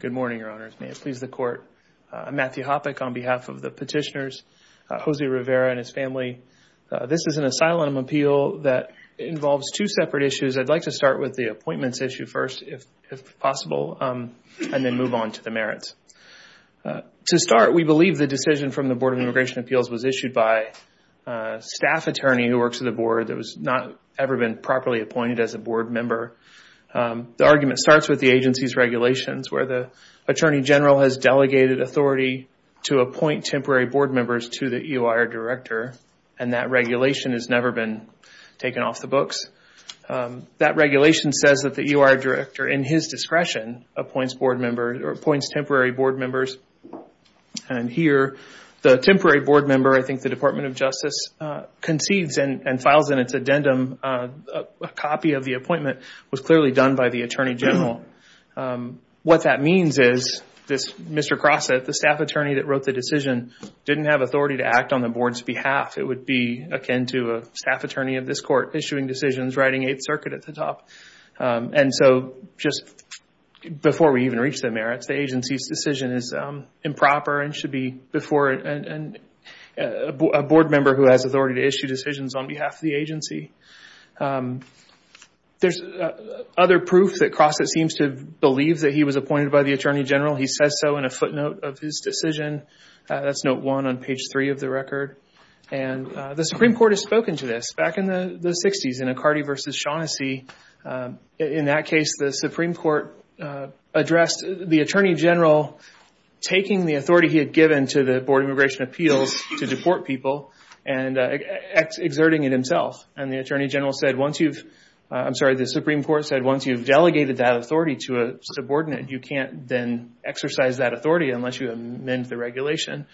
Good morning, your honors. May it please the court. I'm Matthew Hoppeck on behalf of the petitioners, Jose Rivera and his family. This is an asylum appeal that involves two separate issues. I'd like to start with the appointments issue first, if possible, and then move on to the merits. To start, we believe the decision from the Board of Immigration Appeals was to the board that has not ever been properly appointed as a board member. The argument starts with the agency's regulations where the attorney general has delegated authority to appoint temporary board members to the EOIR director. That regulation has never been taken off the books. That regulation says that the EOIR director, in his discretion, appoints temporary board members. Here, the temporary board member, I think the Department of Justice, concedes and files in its addendum a copy of the appointment. It was clearly done by the attorney general. What that means is, Mr. Crossett, the staff attorney that wrote the decision, didn't have authority to act on the board's behalf. It would be akin to a staff attorney of this court issuing decisions, writing Eighth Circuit at the top. Just before we even reach the merits, the agency's decision is improper and should be before a board member who has authority to issue decisions on behalf of the agency. There's other proof that Crossett seems to believe that he was appointed by the attorney general. He says so in a footnote of his decision. That's note one on page three of the record. The Supreme Court has spoken to this. Back in the 60s, in McCarty v. Shaughnessy, in that case, the Supreme Court addressed the attorney general taking the authority he had given to the Board of Immigration Appeals to deport people and exerting it himself. The Supreme Court said, once you've delegated that authority to a subordinate, you can't exercise that authority unless you amend the regulation.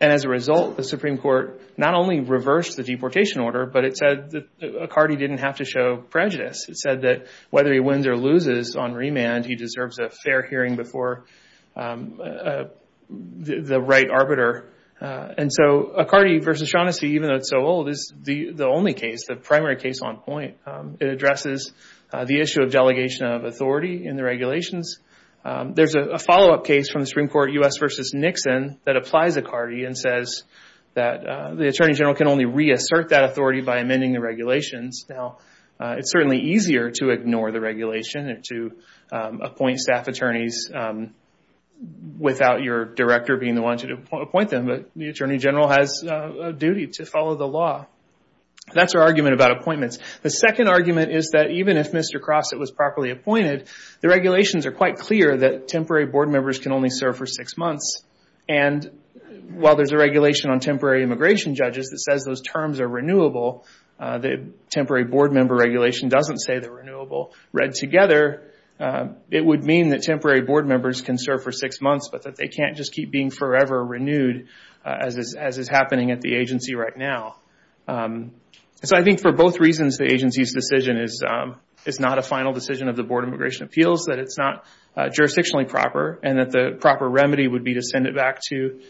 As a result, the Supreme Court not only reversed the deportation order, but it said that McCarty didn't have to show prejudice. It said that whether he wins or loses on remand, he deserves a fair hearing before the right arbiter. McCarty v. Shaughnessy, even though it's so old, is the only case, the primary case on this point. It addresses the issue of delegation of authority in the regulations. There's a follow-up case from the Supreme Court, U.S. v. Nixon, that applies to McCarty and says that the attorney general can only reassert that authority by amending the regulations. It's certainly easier to ignore the regulation and to appoint staff attorneys without your director being the one to appoint them, but the attorney general has a duty to follow the law. That's our argument about appointments. The second argument is that even if Mr. Crossett was properly appointed, the regulations are quite clear that temporary board members can only serve for six months. While there's a regulation on temporary immigration judges that says those terms are renewable, the temporary board member regulation doesn't say they're renewable. Read together, it would mean that temporary board members can serve for six months, but that they can't just keep being forever renewed as is happening at the agency right now. I think for both reasons, the agency's decision is not a final decision of the Board of Immigration Appeals, that it's not jurisdictionally proper, and that the proper remedy would be to send it back to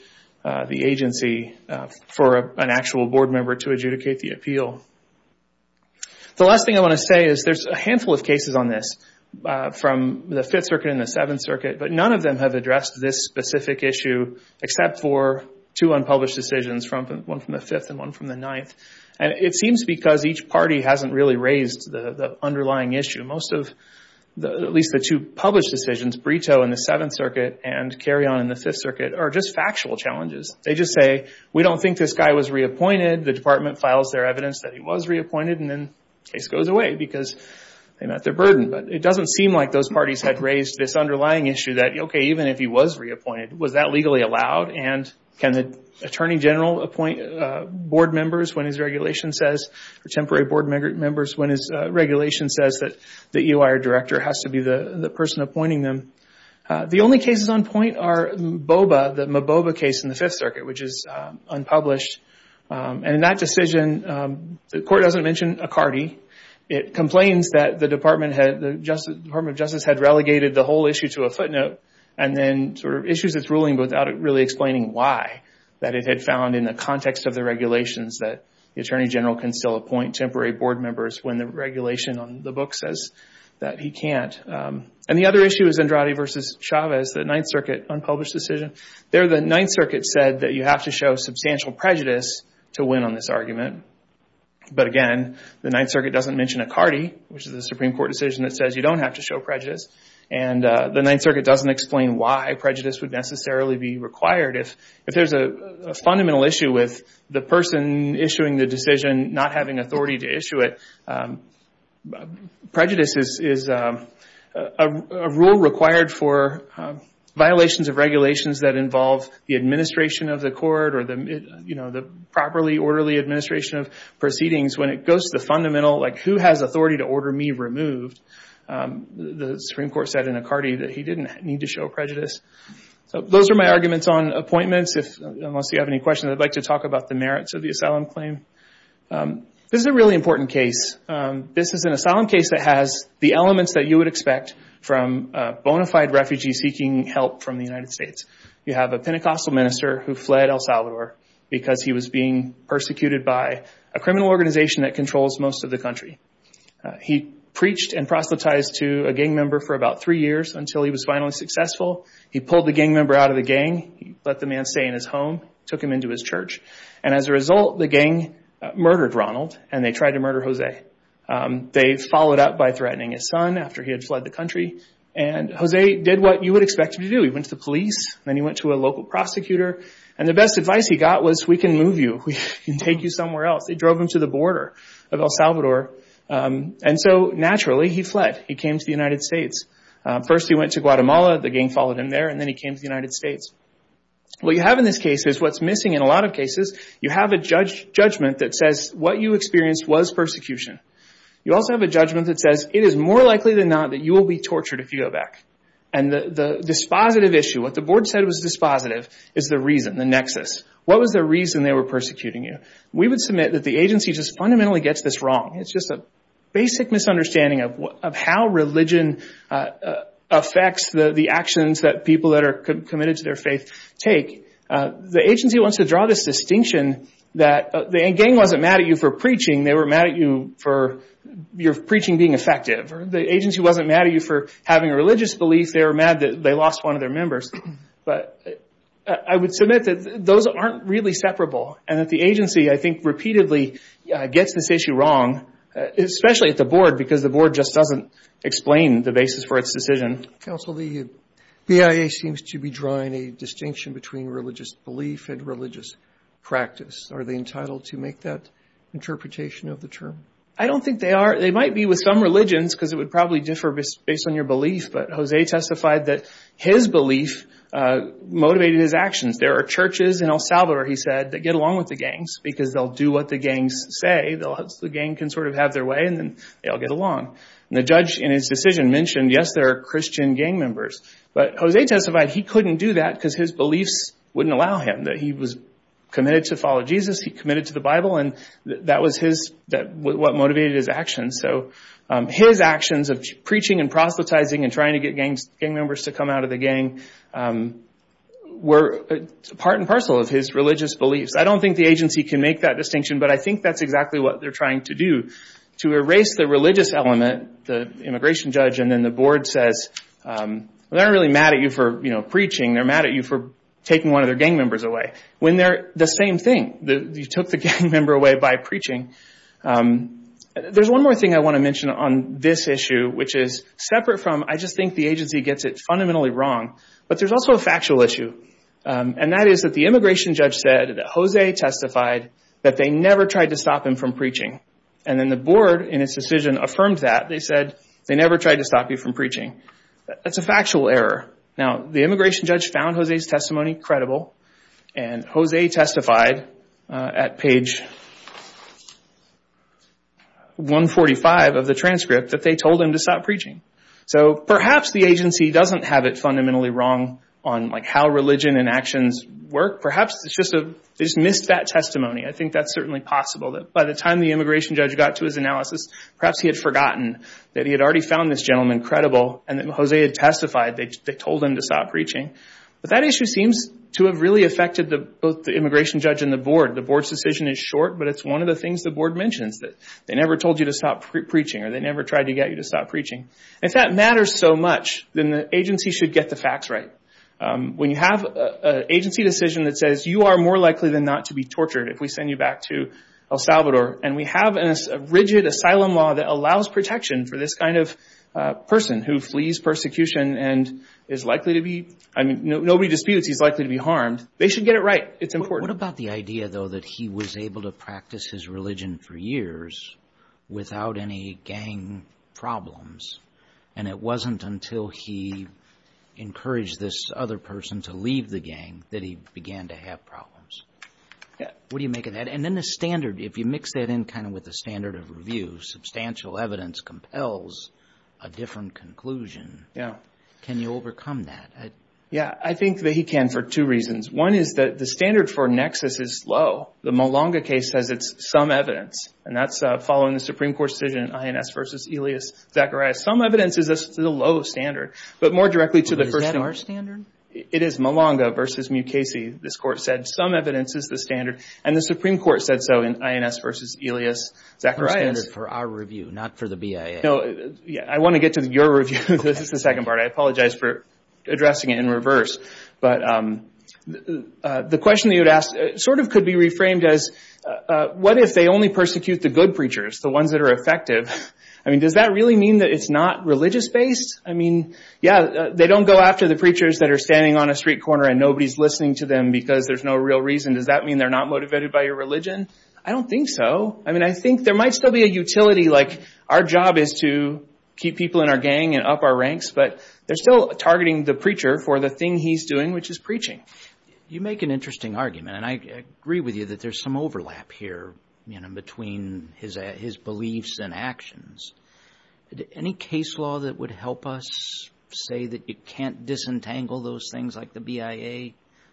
the agency for an actual board member to adjudicate the appeal. The last thing I want to say is there's a handful of cases on this from the Fifth Circuit and the Seventh Circuit, but none of them have addressed this specific issue except for two unpublished decisions, one from the Fifth and one from the Ninth. It seems because each party hasn't really raised the underlying issue. At least the two published decisions, Brito in the Seventh Circuit and Carrion in the Fifth Circuit, are just factual challenges. They just say, we don't think this guy was reappointed. The department files their evidence that he was reappointed, and then the case goes away because they met their burden. It doesn't seem like those parties had raised this underlying issue that, okay, even if he was reappointed, was that legally allowed, and can the Attorney General appoint board members when his regulation says, or temporary board members when his regulation says that the EOI or director has to be the person appointing them? The only cases on point are the Mboba case in the Fifth Circuit, which is unpublished. In that decision, the court doesn't mention Accardi. It complains that the Department of Justice had relegated the whole issue to a footnote, and then issues its ruling without really explaining why, that it had found in the context of the regulations that the Attorney General can still appoint temporary board members when the regulation on the book says that he can't. The other issue is Andrade v. Chavez, the Ninth Circuit unpublished decision. There, you have to show substantial prejudice to win on this argument. Again, the Ninth Circuit doesn't mention Accardi, which is a Supreme Court decision that says you don't have to show prejudice. The Ninth Circuit doesn't explain why prejudice would necessarily be required. If there's a fundamental issue with the person issuing the decision not having authority to issue it, prejudice is a rule required for violations of regulations that involve the administration of the court or the properly orderly administration of proceedings. When it goes to the fundamental, like who has authority to order me removed, the Supreme Court said in Accardi that he didn't need to show prejudice. Those are my arguments on appointments. Unless you have any questions, I'd like to talk about the merits of the asylum claim. This is a really important case. This is an asylum case that has the elements that you would expect from a bona fide refugee seeking help from the United States. You have a Pentecostal minister who fled El Salvador because he was being persecuted by a criminal organization that controls most of the country. He preached and proselytized to a gang member for about three years until he was finally successful. He pulled the gang member out of the gang, let the man stay in his home, took him into his church. As a result, the gang murdered Ronald and they tried to murder Jose. They followed up by threatening his son after he had fled the country. Jose did what you would expect him to do. He went to the police. Then he went to a local prosecutor. The best advice he got was, we can move you. We can take you somewhere else. They drove him to the border of El Salvador. Naturally, he fled. He came to the United States. First he went to Guatemala. The gang followed him there. Then he came to the United States. What you have in this case is what's missing in a lot of cases. You have a judgment that says what you experienced was persecution. You also have a judgment that says it is more likely than not that you will be tortured if you go back. The dispositive issue, what the board said was dispositive, is the reason, the nexus. What was the reason they were persecuting you? We would submit that the agency just fundamentally gets this wrong. It's just a basic misunderstanding of how religion affects the actions that people that are committed to their faith take. The agency wants to draw this distinction that the gang wasn't mad at you for preaching. They weren't mad at you for your preaching being effective. The agency wasn't mad at you for having a religious belief. They were mad that they lost one of their members. I would submit that those aren't really separable and that the agency, I think, repeatedly gets this issue wrong, especially at the board because the board just doesn't explain the basis for its decision. Counsel, the BIA seems to be drawing a distinction between religious belief and religious practice. Are they entitled to make that interpretation of the term? I don't think they are. They might be with some religions because it would probably differ based on your belief, but Jose testified that his belief motivated his actions. There are churches in El Salvador, he said, that get along with the gangs because they'll do what the gangs say. The gang can sort of have their way and then they'll get along. The judge in his decision mentioned, yes, there are Christian gang members, but Jose testified he couldn't do that because his beliefs wouldn't allow him. He was committed to follow Jesus, he committed to the Bible, and that was what motivated his actions. His actions of preaching and proselytizing and trying to get gang members to come out of the gang were part and parcel of his religious beliefs. I don't think the agency can make that distinction, but I think that's exactly what they're trying to do to erase the religious element. The immigration judge and then the board says, they're not really mad at you for preaching, they're mad at you for taking one of their gang members away, when they're the same thing. You took the gang member away by preaching. There's one more thing I want to mention on this issue, which is separate from, I just think the agency gets it fundamentally wrong, but there's also a factual issue. That is that the immigration judge said that Jose testified that they never tried to stop him from preaching. Then the board, in its decision, affirmed that. They said they never tried to stop you from preaching. That's a factual error. The immigration judge found Jose's testimony credible, and Jose testified at page 145 of the transcript that they told him to stop preaching. Perhaps the agency doesn't have it fundamentally wrong on how religion and actions work. Perhaps they just missed that time the immigration judge got to his analysis. Perhaps he had forgotten that he had already found this gentleman credible, and that Jose had testified that they told him to stop preaching. That issue seems to have really affected both the immigration judge and the board. The board's decision is short, but it's one of the things the board mentions, that they never told you to stop preaching, or they never tried to get you to stop preaching. If that matters so much, then the agency should get the facts right. When you have an agency decision that says, you are more likely than not to be tortured if we send you back to El Salvador, and we have a rigid asylum law that allows protection for this kind of person who flees persecution and is likely to be... Nobody disputes he's likely to be harmed. They should get it right. It's important. What about the idea, though, that he was able to practice his religion for years without any gang problems, and it wasn't until he encouraged this other person to leave the gang that he began to have problems? What do you make of that? Then the standard, if you mix that in with the standard of review, substantial evidence compels a different conclusion. Can you overcome that? I think that he can for two reasons. One is that the standard for nexus is low. The Malanga case says it's some evidence, and that's following the Supreme Court's decision in INS v. Elias Zacharias. Some evidence is a low standard, but more directly to the first... Is that our standard? It is Malanga v. Mukasey. This court said some evidence is the standard, and the Supreme Court said so in INS v. Elias Zacharias. It's the standard for our review, not for the BIA. I want to get to your review. This is the second part. I apologize for addressing it in reverse. The question you had asked could be reframed as, what if they only persecute the good preachers, the ones that are effective? Does that really mean that it's not religious-based? They don't go after the preachers that are standing on a street corner, and nobody's listening to them because there's no real reason. Does that mean they're not motivated by your religion? I don't think so. I think there might still be a utility. Our job is to keep people in our gang and up our ranks, but they're still targeting the preacher for the thing he's doing, which is preaching. You make an interesting argument, and I agree with you that there's some overlap here between his beliefs and actions. Any case law that would help us say that you can't disentangle those things like the BIA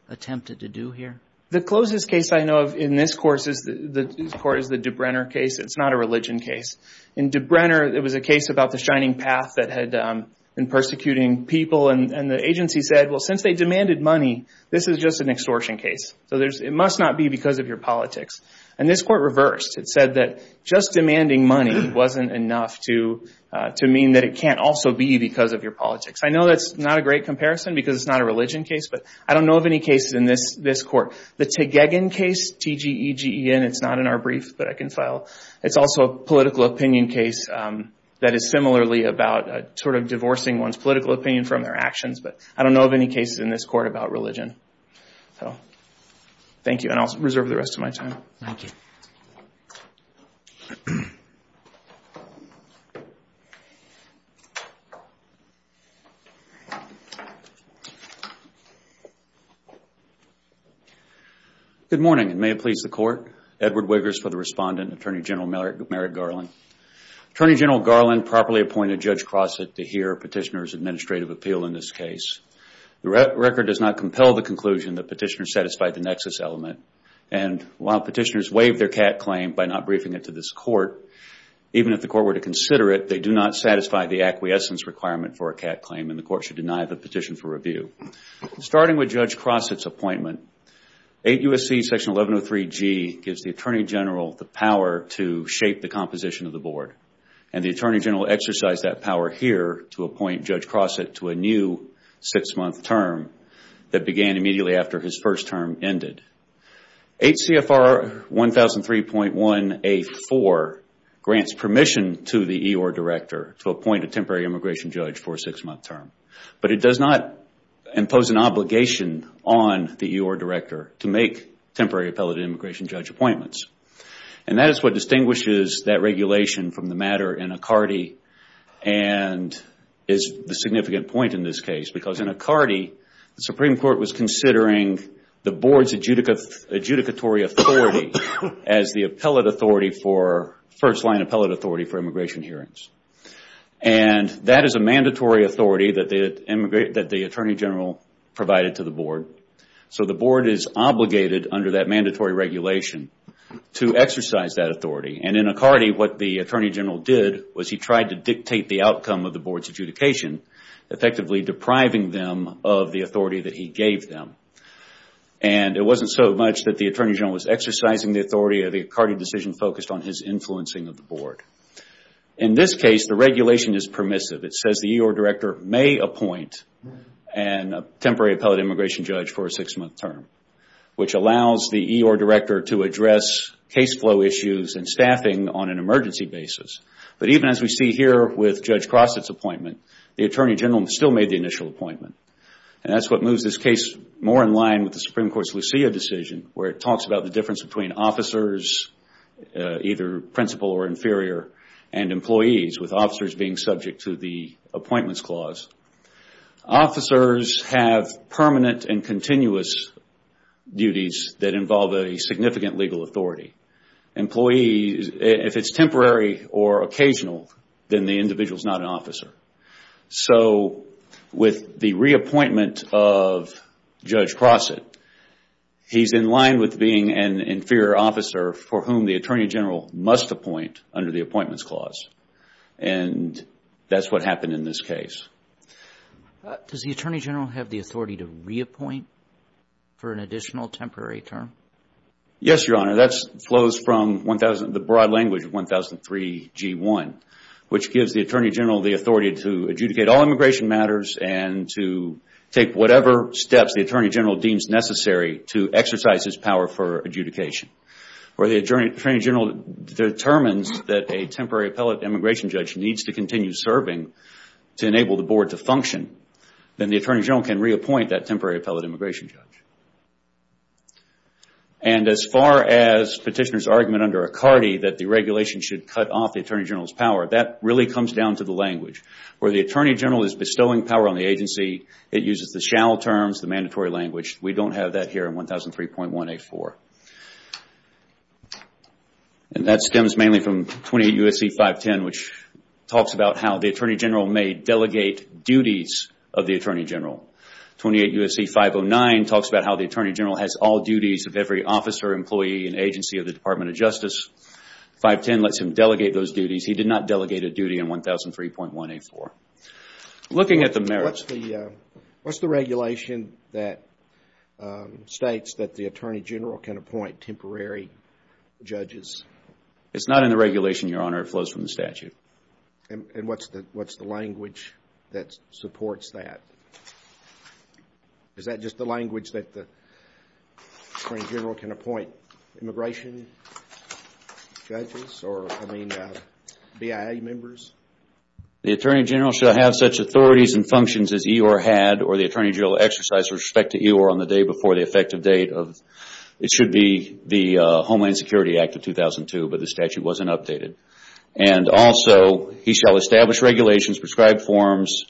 attempted to do here? The closest case I know of in this court is the DeBrenner case. It's not a religion case. In DeBrenner, it was a case about the Shining Path that had been persecuting people, and the agency said, since they demanded money, this is just an extortion case. It must not be because of your politics. This court reversed. It said that just demanding money wasn't enough to mean that it can't also be because of your politics. I know that's not a great comparison because it's not a religion case, but I don't know of any cases in this court. The Tegegen case, T-G-E-G-E-N, it's not in our brief, but I can file. It's also a political opinion case that is similarly about divorcing one's political opinion from their actions, but I don't know of any cases in this court about religion. Thank you, and I'll reserve the rest of my time. Good morning, and may it please the Court. Edward Wiggers for the Respondent, Attorney General Merrick Garland. Attorney General Garland properly appointed Judge Crossett to hear Petitioner's administrative appeal in this case. The record does not compel the conclusion that Petitioner satisfied the nexus element, and while Petitioners waived their CAT claim by not briefing it to this court, even if the court were to consider it, they do not satisfy the acquiescence requirement for a CAT claim, and the court should deny the petition for review. Starting with Judge Crossett's appointment, 8 U.S.C. 1103-G gives the Attorney General the power to shape the composition of the board, and the Attorney General exercised that power here to appoint Judge Crossett to a new six-month term that began immediately after his first term ended. H.C.F.R. 1003.1-A-4 grants permission to the board, but does not impose an obligation on the E.O.R. director to make temporary appellate immigration judge appointments, and that is what distinguishes that regulation from the matter in Acardi and is the significant point in this case, because in Acardi, the Supreme Court was considering the board's adjudicatory authority as the first-line appellate authority for immigration hearings, and that is a mandatory authority that the Attorney General provided to the board, so the board is obligated under that mandatory regulation to exercise that authority, and in Acardi, what the Attorney General did was he tried to dictate the outcome of the board's adjudication, effectively depriving them of the authority that he gave them, and it wasn't so much that the Attorney General was exercising the authority, the Acardi decision focused on his influencing of the board. In this case, the regulation is permissive. It says the E.O.R. director may appoint a temporary appellate immigration judge for a six-month term, which allows the E.O.R. director to address case flow issues and staffing on an emergency basis, but even as we see here with Judge Crossett's appointment, the Attorney General still made the initial appointment, and that is what moves this case more in line with the Supreme Court's Lucia decision, where it talks about the difference between officers, either principal or inferior, and employees, with officers being subject to the appointments clause. Officers have permanent and continuous duties that involve a significant legal authority. If it's temporary or occasional, then the individual is not an officer. So, with the reappointment of Judge Crossett, he's in line with being an inferior officer for whom the Attorney General must appoint under the appointments clause, and that's what happened in this case. Does the Attorney General have the authority to reappoint for an additional temporary term? Yes, Your Honor. That flows from the broad language of 1003 G1, which gives the Attorney General the authority to adjudicate all immigration matters and to take whatever steps the Attorney General deems necessary to exercise his power for adjudication. Where the Attorney General determines that a temporary appellate immigration judge needs to continue serving to enable the board to function, then the Attorney General can reappoint that temporary appellate immigration judge. As far as Petitioner's argument under Accardi that the regulation should cut off the Attorney General's power, that really comes down to the language. Where the Attorney General is bestowing power on the agency, it uses the shall terms, the mandatory language. We don't have that here in 1003.184. That stems mainly from 28 U.S.C. 510, which talks about how the Attorney General may delegate duties of the Attorney General. 28 U.S.C. 509 talks about how the Attorney General has all duties of every officer, employee, and agency of the Department of Justice. 510 lets him delegate those duties. He did not delegate a duty in 1003.184. Looking at the merits. What's the regulation that states that the Attorney General can appoint temporary judges? It's not in the regulation, Your Honor. It flows from the statute. What's the language that supports that? Is that just the language that the Attorney General can appoint immigration judges or BIA members? The Attorney General shall have such authorities and functions as EOIR had or the Attorney General exercised with respect to EOIR on the day before the effective date of, it should be the Homeland Security Act of 2002, but the statute wasn't updated. Also, he shall establish regulations, prescribe forms,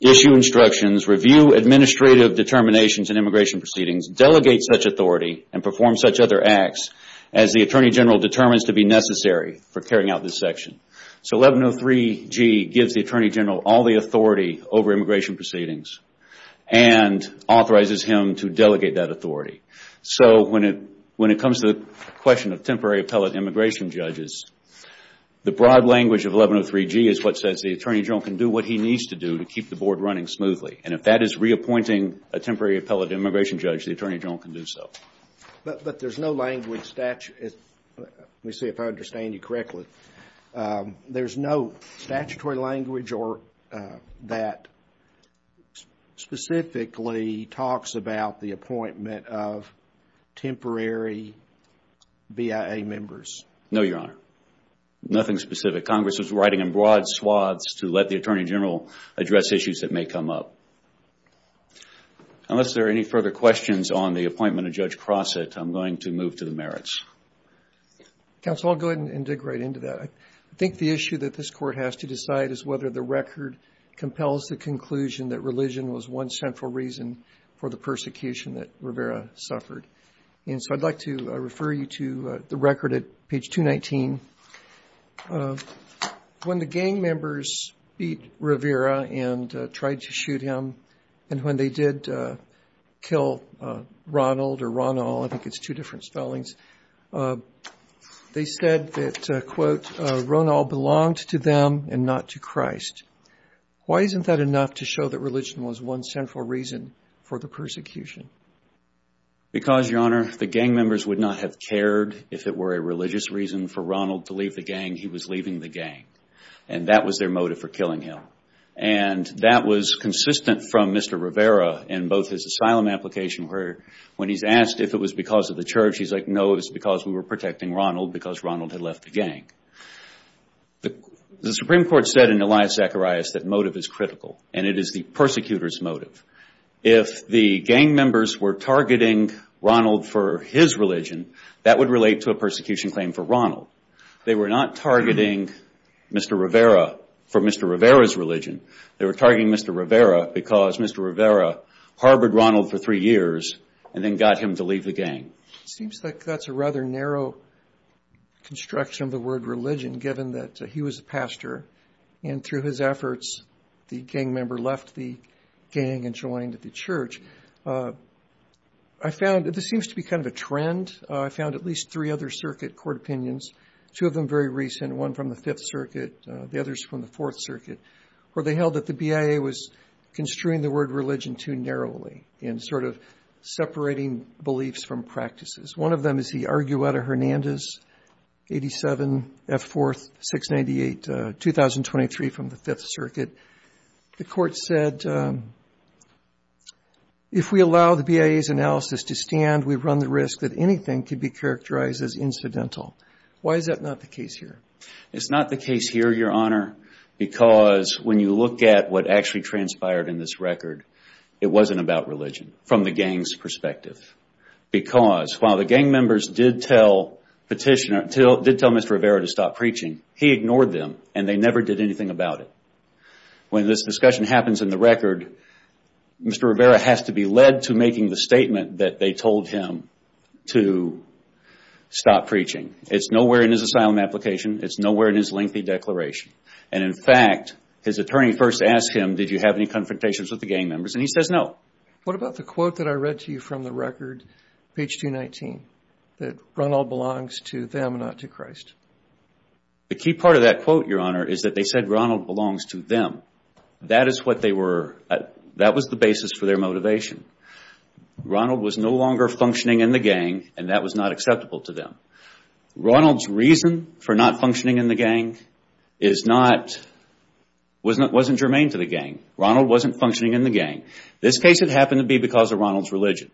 issue instructions, review administrative determinations and immigration proceedings, delegate such authority, and perform such other acts as the Attorney General determines to be necessary for carrying out this section. 1103G gives the Attorney General all the authority over immigration proceedings and authorizes him to delegate that authority. When it comes to the question of temporary appellate immigration judges, the broad language of 1103G is what says the Attorney General can do what he needs to do to keep the board running smoothly. If that is reappointing a temporary appellate immigration judge, the Attorney General can do so. But there's no language, let me see if I understand you correctly, there's no statutory language that specifically talks about the appointment of temporary BIA members? No, Your Honor. Nothing specific. Congress is writing in broad swaths to let the Attorney General address issues that may come up. Unless there are any further questions on the appointment of Judge Crossett, I'm going to move to the merits. Counsel, I'll go ahead and dig right into that. I think the issue that this Court has to decide is whether the record compels the conclusion that religion was one central reason for the persecution that Rivera suffered. And so I'd like to refer you to the record at page 219. When the gang members beat Rivera and tried to shoot him, and when they did kill Ronald or Ronald, I think it's two different spellings, they said that, quote, Ronald belonged to them and not to Christ. Why isn't that enough to show that religion was one central reason for the persecution? Because Your Honor, the gang members would not have cared if it were a religious reason for Ronald to leave the gang. He was leaving the gang. And that was their motive for killing him. And that was consistent from Mr. Rivera in both his asylum application where when he's asked if it was because of the church, he's like, no, it was because we were protecting Ronald because Ronald had left the gang. The Supreme Court said in Elias Zacharias that motive is critical and it is the persecutor's motive. If the gang members were targeting Ronald for his religion, that would relate to a persecution claim for Ronald. They were not targeting Mr. Rivera for Mr. Rivera's religion. They were targeting Mr. Rivera because Mr. Rivera harbored Ronald for three years and then got him to leave the gang. Seems like that's a rather narrow construction of the word religion given that he was a pastor and through his efforts, the gang member left the gang and joined the church. This seems to be kind of a trend. I found at least three other circuit court opinions, two of them very recent, one from the Fifth Circuit, the others from the Fourth Circuit, where they held that the BIA was construing the word religion too narrowly and sort of separating beliefs from practices. One of them is the Argueta-Hernandez 87, F-4, 698, 2023 from the Fifth Circuit. The court said if we allow the BIA's analysis to stand, we've run the risk that anything could be characterized as incidental. Why is that not the case here? It's not the case here, Your Honor, because when you look at what actually transpired in this record, it wasn't about religion from the gang's perspective. Because while the gang members did tell Mr. Rivera to stop preaching, he ignored them and they never did anything about it. When this discussion happens in the record, Mr. Rivera has to be led to making the statement that they told him to stop preaching. It's nowhere in his asylum application. It's nowhere in his lengthy declaration. In fact, his attorney first asked him, did you have any confrontations with the gang members, and he says no. What about the quote that I read to you from the record, page 219, that Ronald belongs to them, not to Christ? The key part of that quote, Your Honor, is that they said Ronald belongs to them. That is what they were, that was the basis for their motivation. Ronald was no longer functioning in the gang and that was not acceptable to them. Ronald's reason for not functioning in the gang wasn't germane to the gang. Ronald wasn't functioning in the gang. This case had happened to be because of Ronald's religion.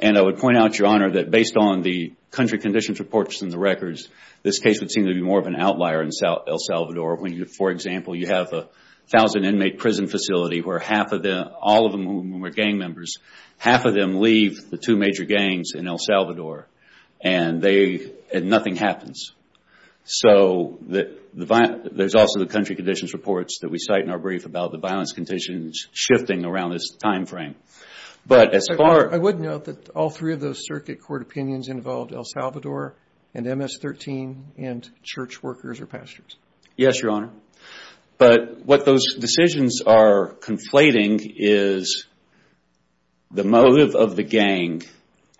I would point out, Your Honor, that based on the country conditions reports in the records, this case would seem to be more of an outlier in El Salvador when, for example, you have a thousand inmate prison facility where half of them, all of them who were gang members, half of them leave the two major gangs in El Salvador and nothing happens. There's also the country conditions reports that we cite in our brief about the violence conditions shifting around this time frame. I would note that all three of those circuit court opinions involved El Salvador and MS-13 and church workers or pastors. Yes, Your Honor. What those decisions are conflating is the motive of the gang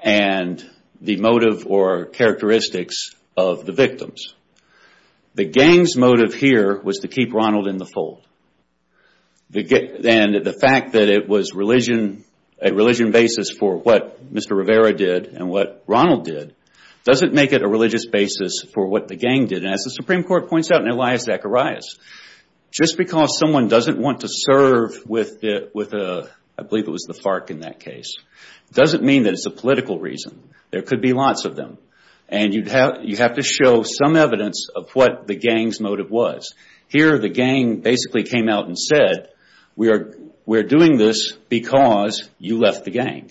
and the motive or characteristics of the victims. The gang's motive here was to keep Ronald in the fold. The fact that it was a religion basis for what Mr. Rivera did and what Ronald did doesn't make it a religious basis for what the gang did. As the Supreme Court points out in Elias Zacharias, just because someone doesn't want to serve with, I believe it was the FARC in that case, doesn't mean that it's a political reason. There could be lots of them. You have to show some evidence of what the gang's motive was. Here, the gang basically came out and said, we're doing this because you left the gang.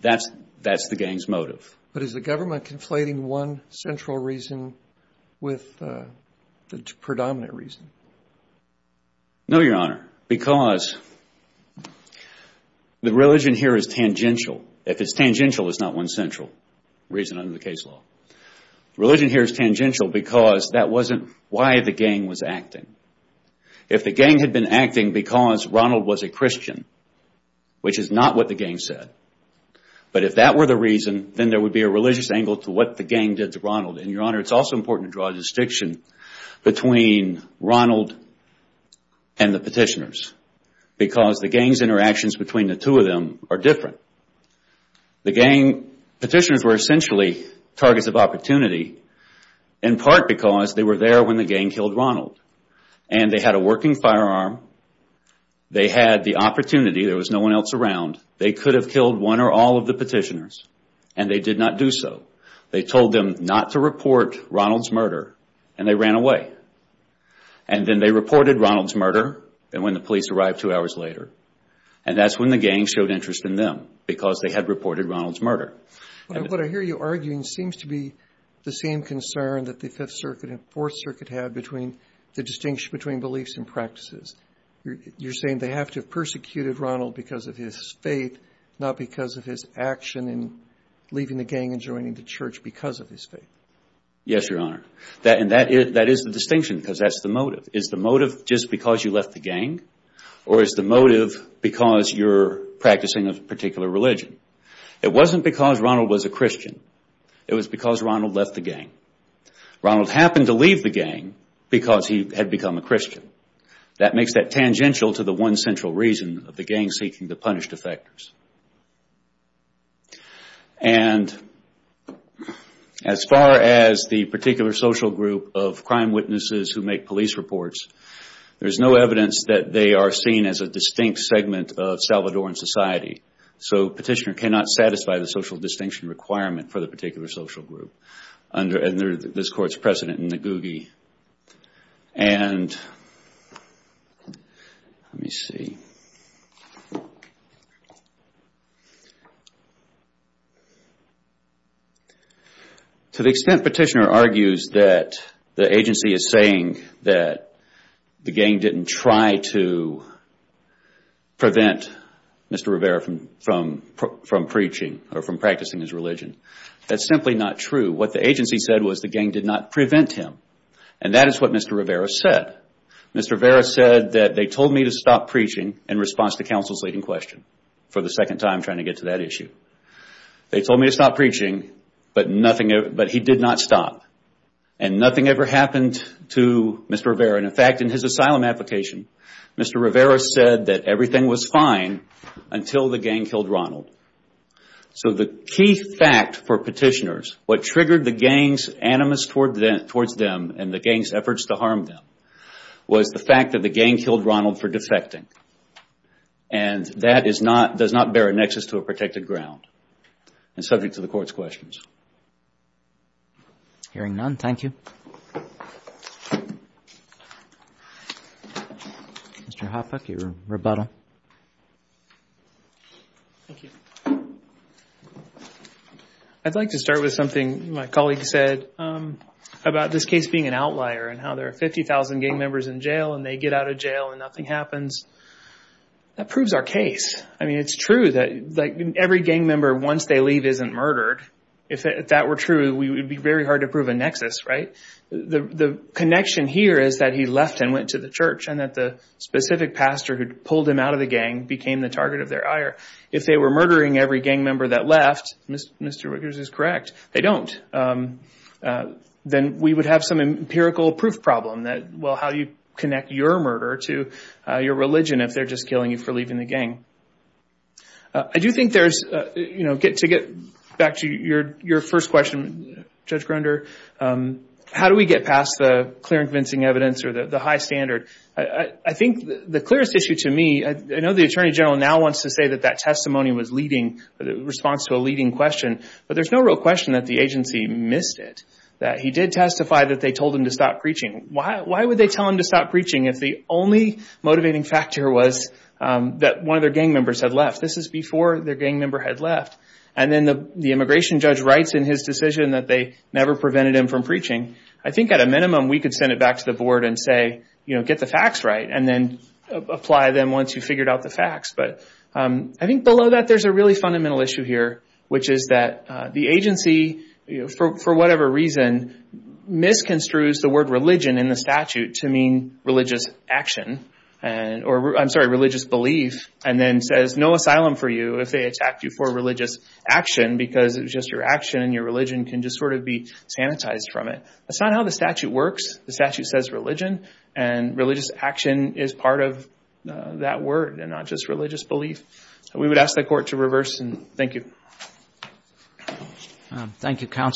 That's the gang's motive. Is the government conflating one central reason with the predominant reason? No, Your Honor, because the religion here is tangential. If it's tangential, it's not one central reason under the case law. The religion here is tangential because that wasn't why the gang was acting. If the gang had been acting because Ronald was a Christian, which is not what the gang said, but if that were the reason, then there would be a religious angle to what the gang did to Ronald. Your Honor, it's also important to draw a distinction between Ronald and the petitioners because the gang's interactions between the two of them are different. The gang petitioners were essentially targets of opportunity, in part because they were there when the gang killed Ronald. They had a working firearm. They had the opportunity. There was no one else around. They could have killed one or all of the petitioners, and they did not do so. They told them not to report Ronald's murder, and they ran away. Then they reported Ronald's murder when the police arrived two hours later. That's when the gang showed interest in them because they had reported Ronald's murder. What I hear you arguing seems to be the same concern that the Fifth Circuit and Fourth Circuit had between the distinction between beliefs and practices. You're saying they have to have persecuted Ronald because of his faith, not because of his action in leaving the gang and joining the church because of his faith. Yes, Your Honor. That is the distinction because that's the motive. Is the motive just because you left the gang, or is the motive because you're practicing a particular religion? It wasn't because Ronald was a Christian. It was because Ronald left the gang. Ronald happened to leave the gang because he had become a Christian. That makes that tangential to the one central reason of the gang seeking to punish defectors. As far as the particular social group of crime witnesses who make police reports, there is no evidence that they are seen as a distinct segment of Salvadoran society. Petitioner cannot satisfy the social distinction requirement for the particular social group under this Court's precedent in the GUGI. To the extent Petitioner argues that the agency is saying that the gang didn't try to prevent Mr. Rivera from preaching or from practicing his religion, that's simply not true. What the agency said was the gang did not prevent him, and that is what Mr. Rivera said. Mr. Rivera said that they told me to stop preaching in response to counsel's leading question for the second time trying to get to that issue. They told me to stop preaching, but he did not stop. Nothing ever happened to Mr. Rivera. In fact, in his asylum application, Mr. Rivera said that everything was fine until the gang killed Ronald. The key fact for Petitioner, what triggered the gang's animus towards them and the gang's animus towards them is that they killed Ronald for defecting, and that does not bear a nexus to a protected ground. It is subject to the Court's questions. Hearing none, thank you. Mr. Hoppe, your rebuttal. I'd like to start with something my colleague said about this case being an outlier and how there are 50,000 gang members in jail and they get out of jail and nothing happens. That proves our case. It's true that every gang member, once they leave, isn't murdered. If that were true, it would be very hard to prove a nexus. The connection here is that he left and went to the church and that the specific pastor who pulled him out of the gang became the target of their ire. If they were murdering every gang member that left, Mr. Rickards is correct, they don't, then we would have some empirical proof problem that, well, how do you connect your murder to your religion if they're just killing you for leaving the gang? I do think there's, you know, to get back to your first question, Judge Grunder, how do we get past the clear and convincing evidence or the high standard? I think the clearest issue to me, I know the Attorney General now wants to say that that was a misleading question, but there's no real question that the agency missed it, that he did testify that they told him to stop preaching. Why would they tell him to stop preaching if the only motivating factor was that one of their gang members had left? This is before their gang member had left. Then the immigration judge writes in his decision that they never prevented him from preaching. I think at a minimum, we could send it back to the board and say, you know, get the facts right and then apply them once you've figured out the facts. I think below that, there's a really fundamental issue here, which is that the agency, for whatever reason, misconstrues the word religion in the statute to mean religious action, or I'm sorry, religious belief, and then says no asylum for you if they attacked you for religious action because it was just your action and your religion can just sort of be sanitized from it. That's not how the statute works. The statute says religion and religious action is part of that word and not just religious belief. We would ask the court to reverse and thank you.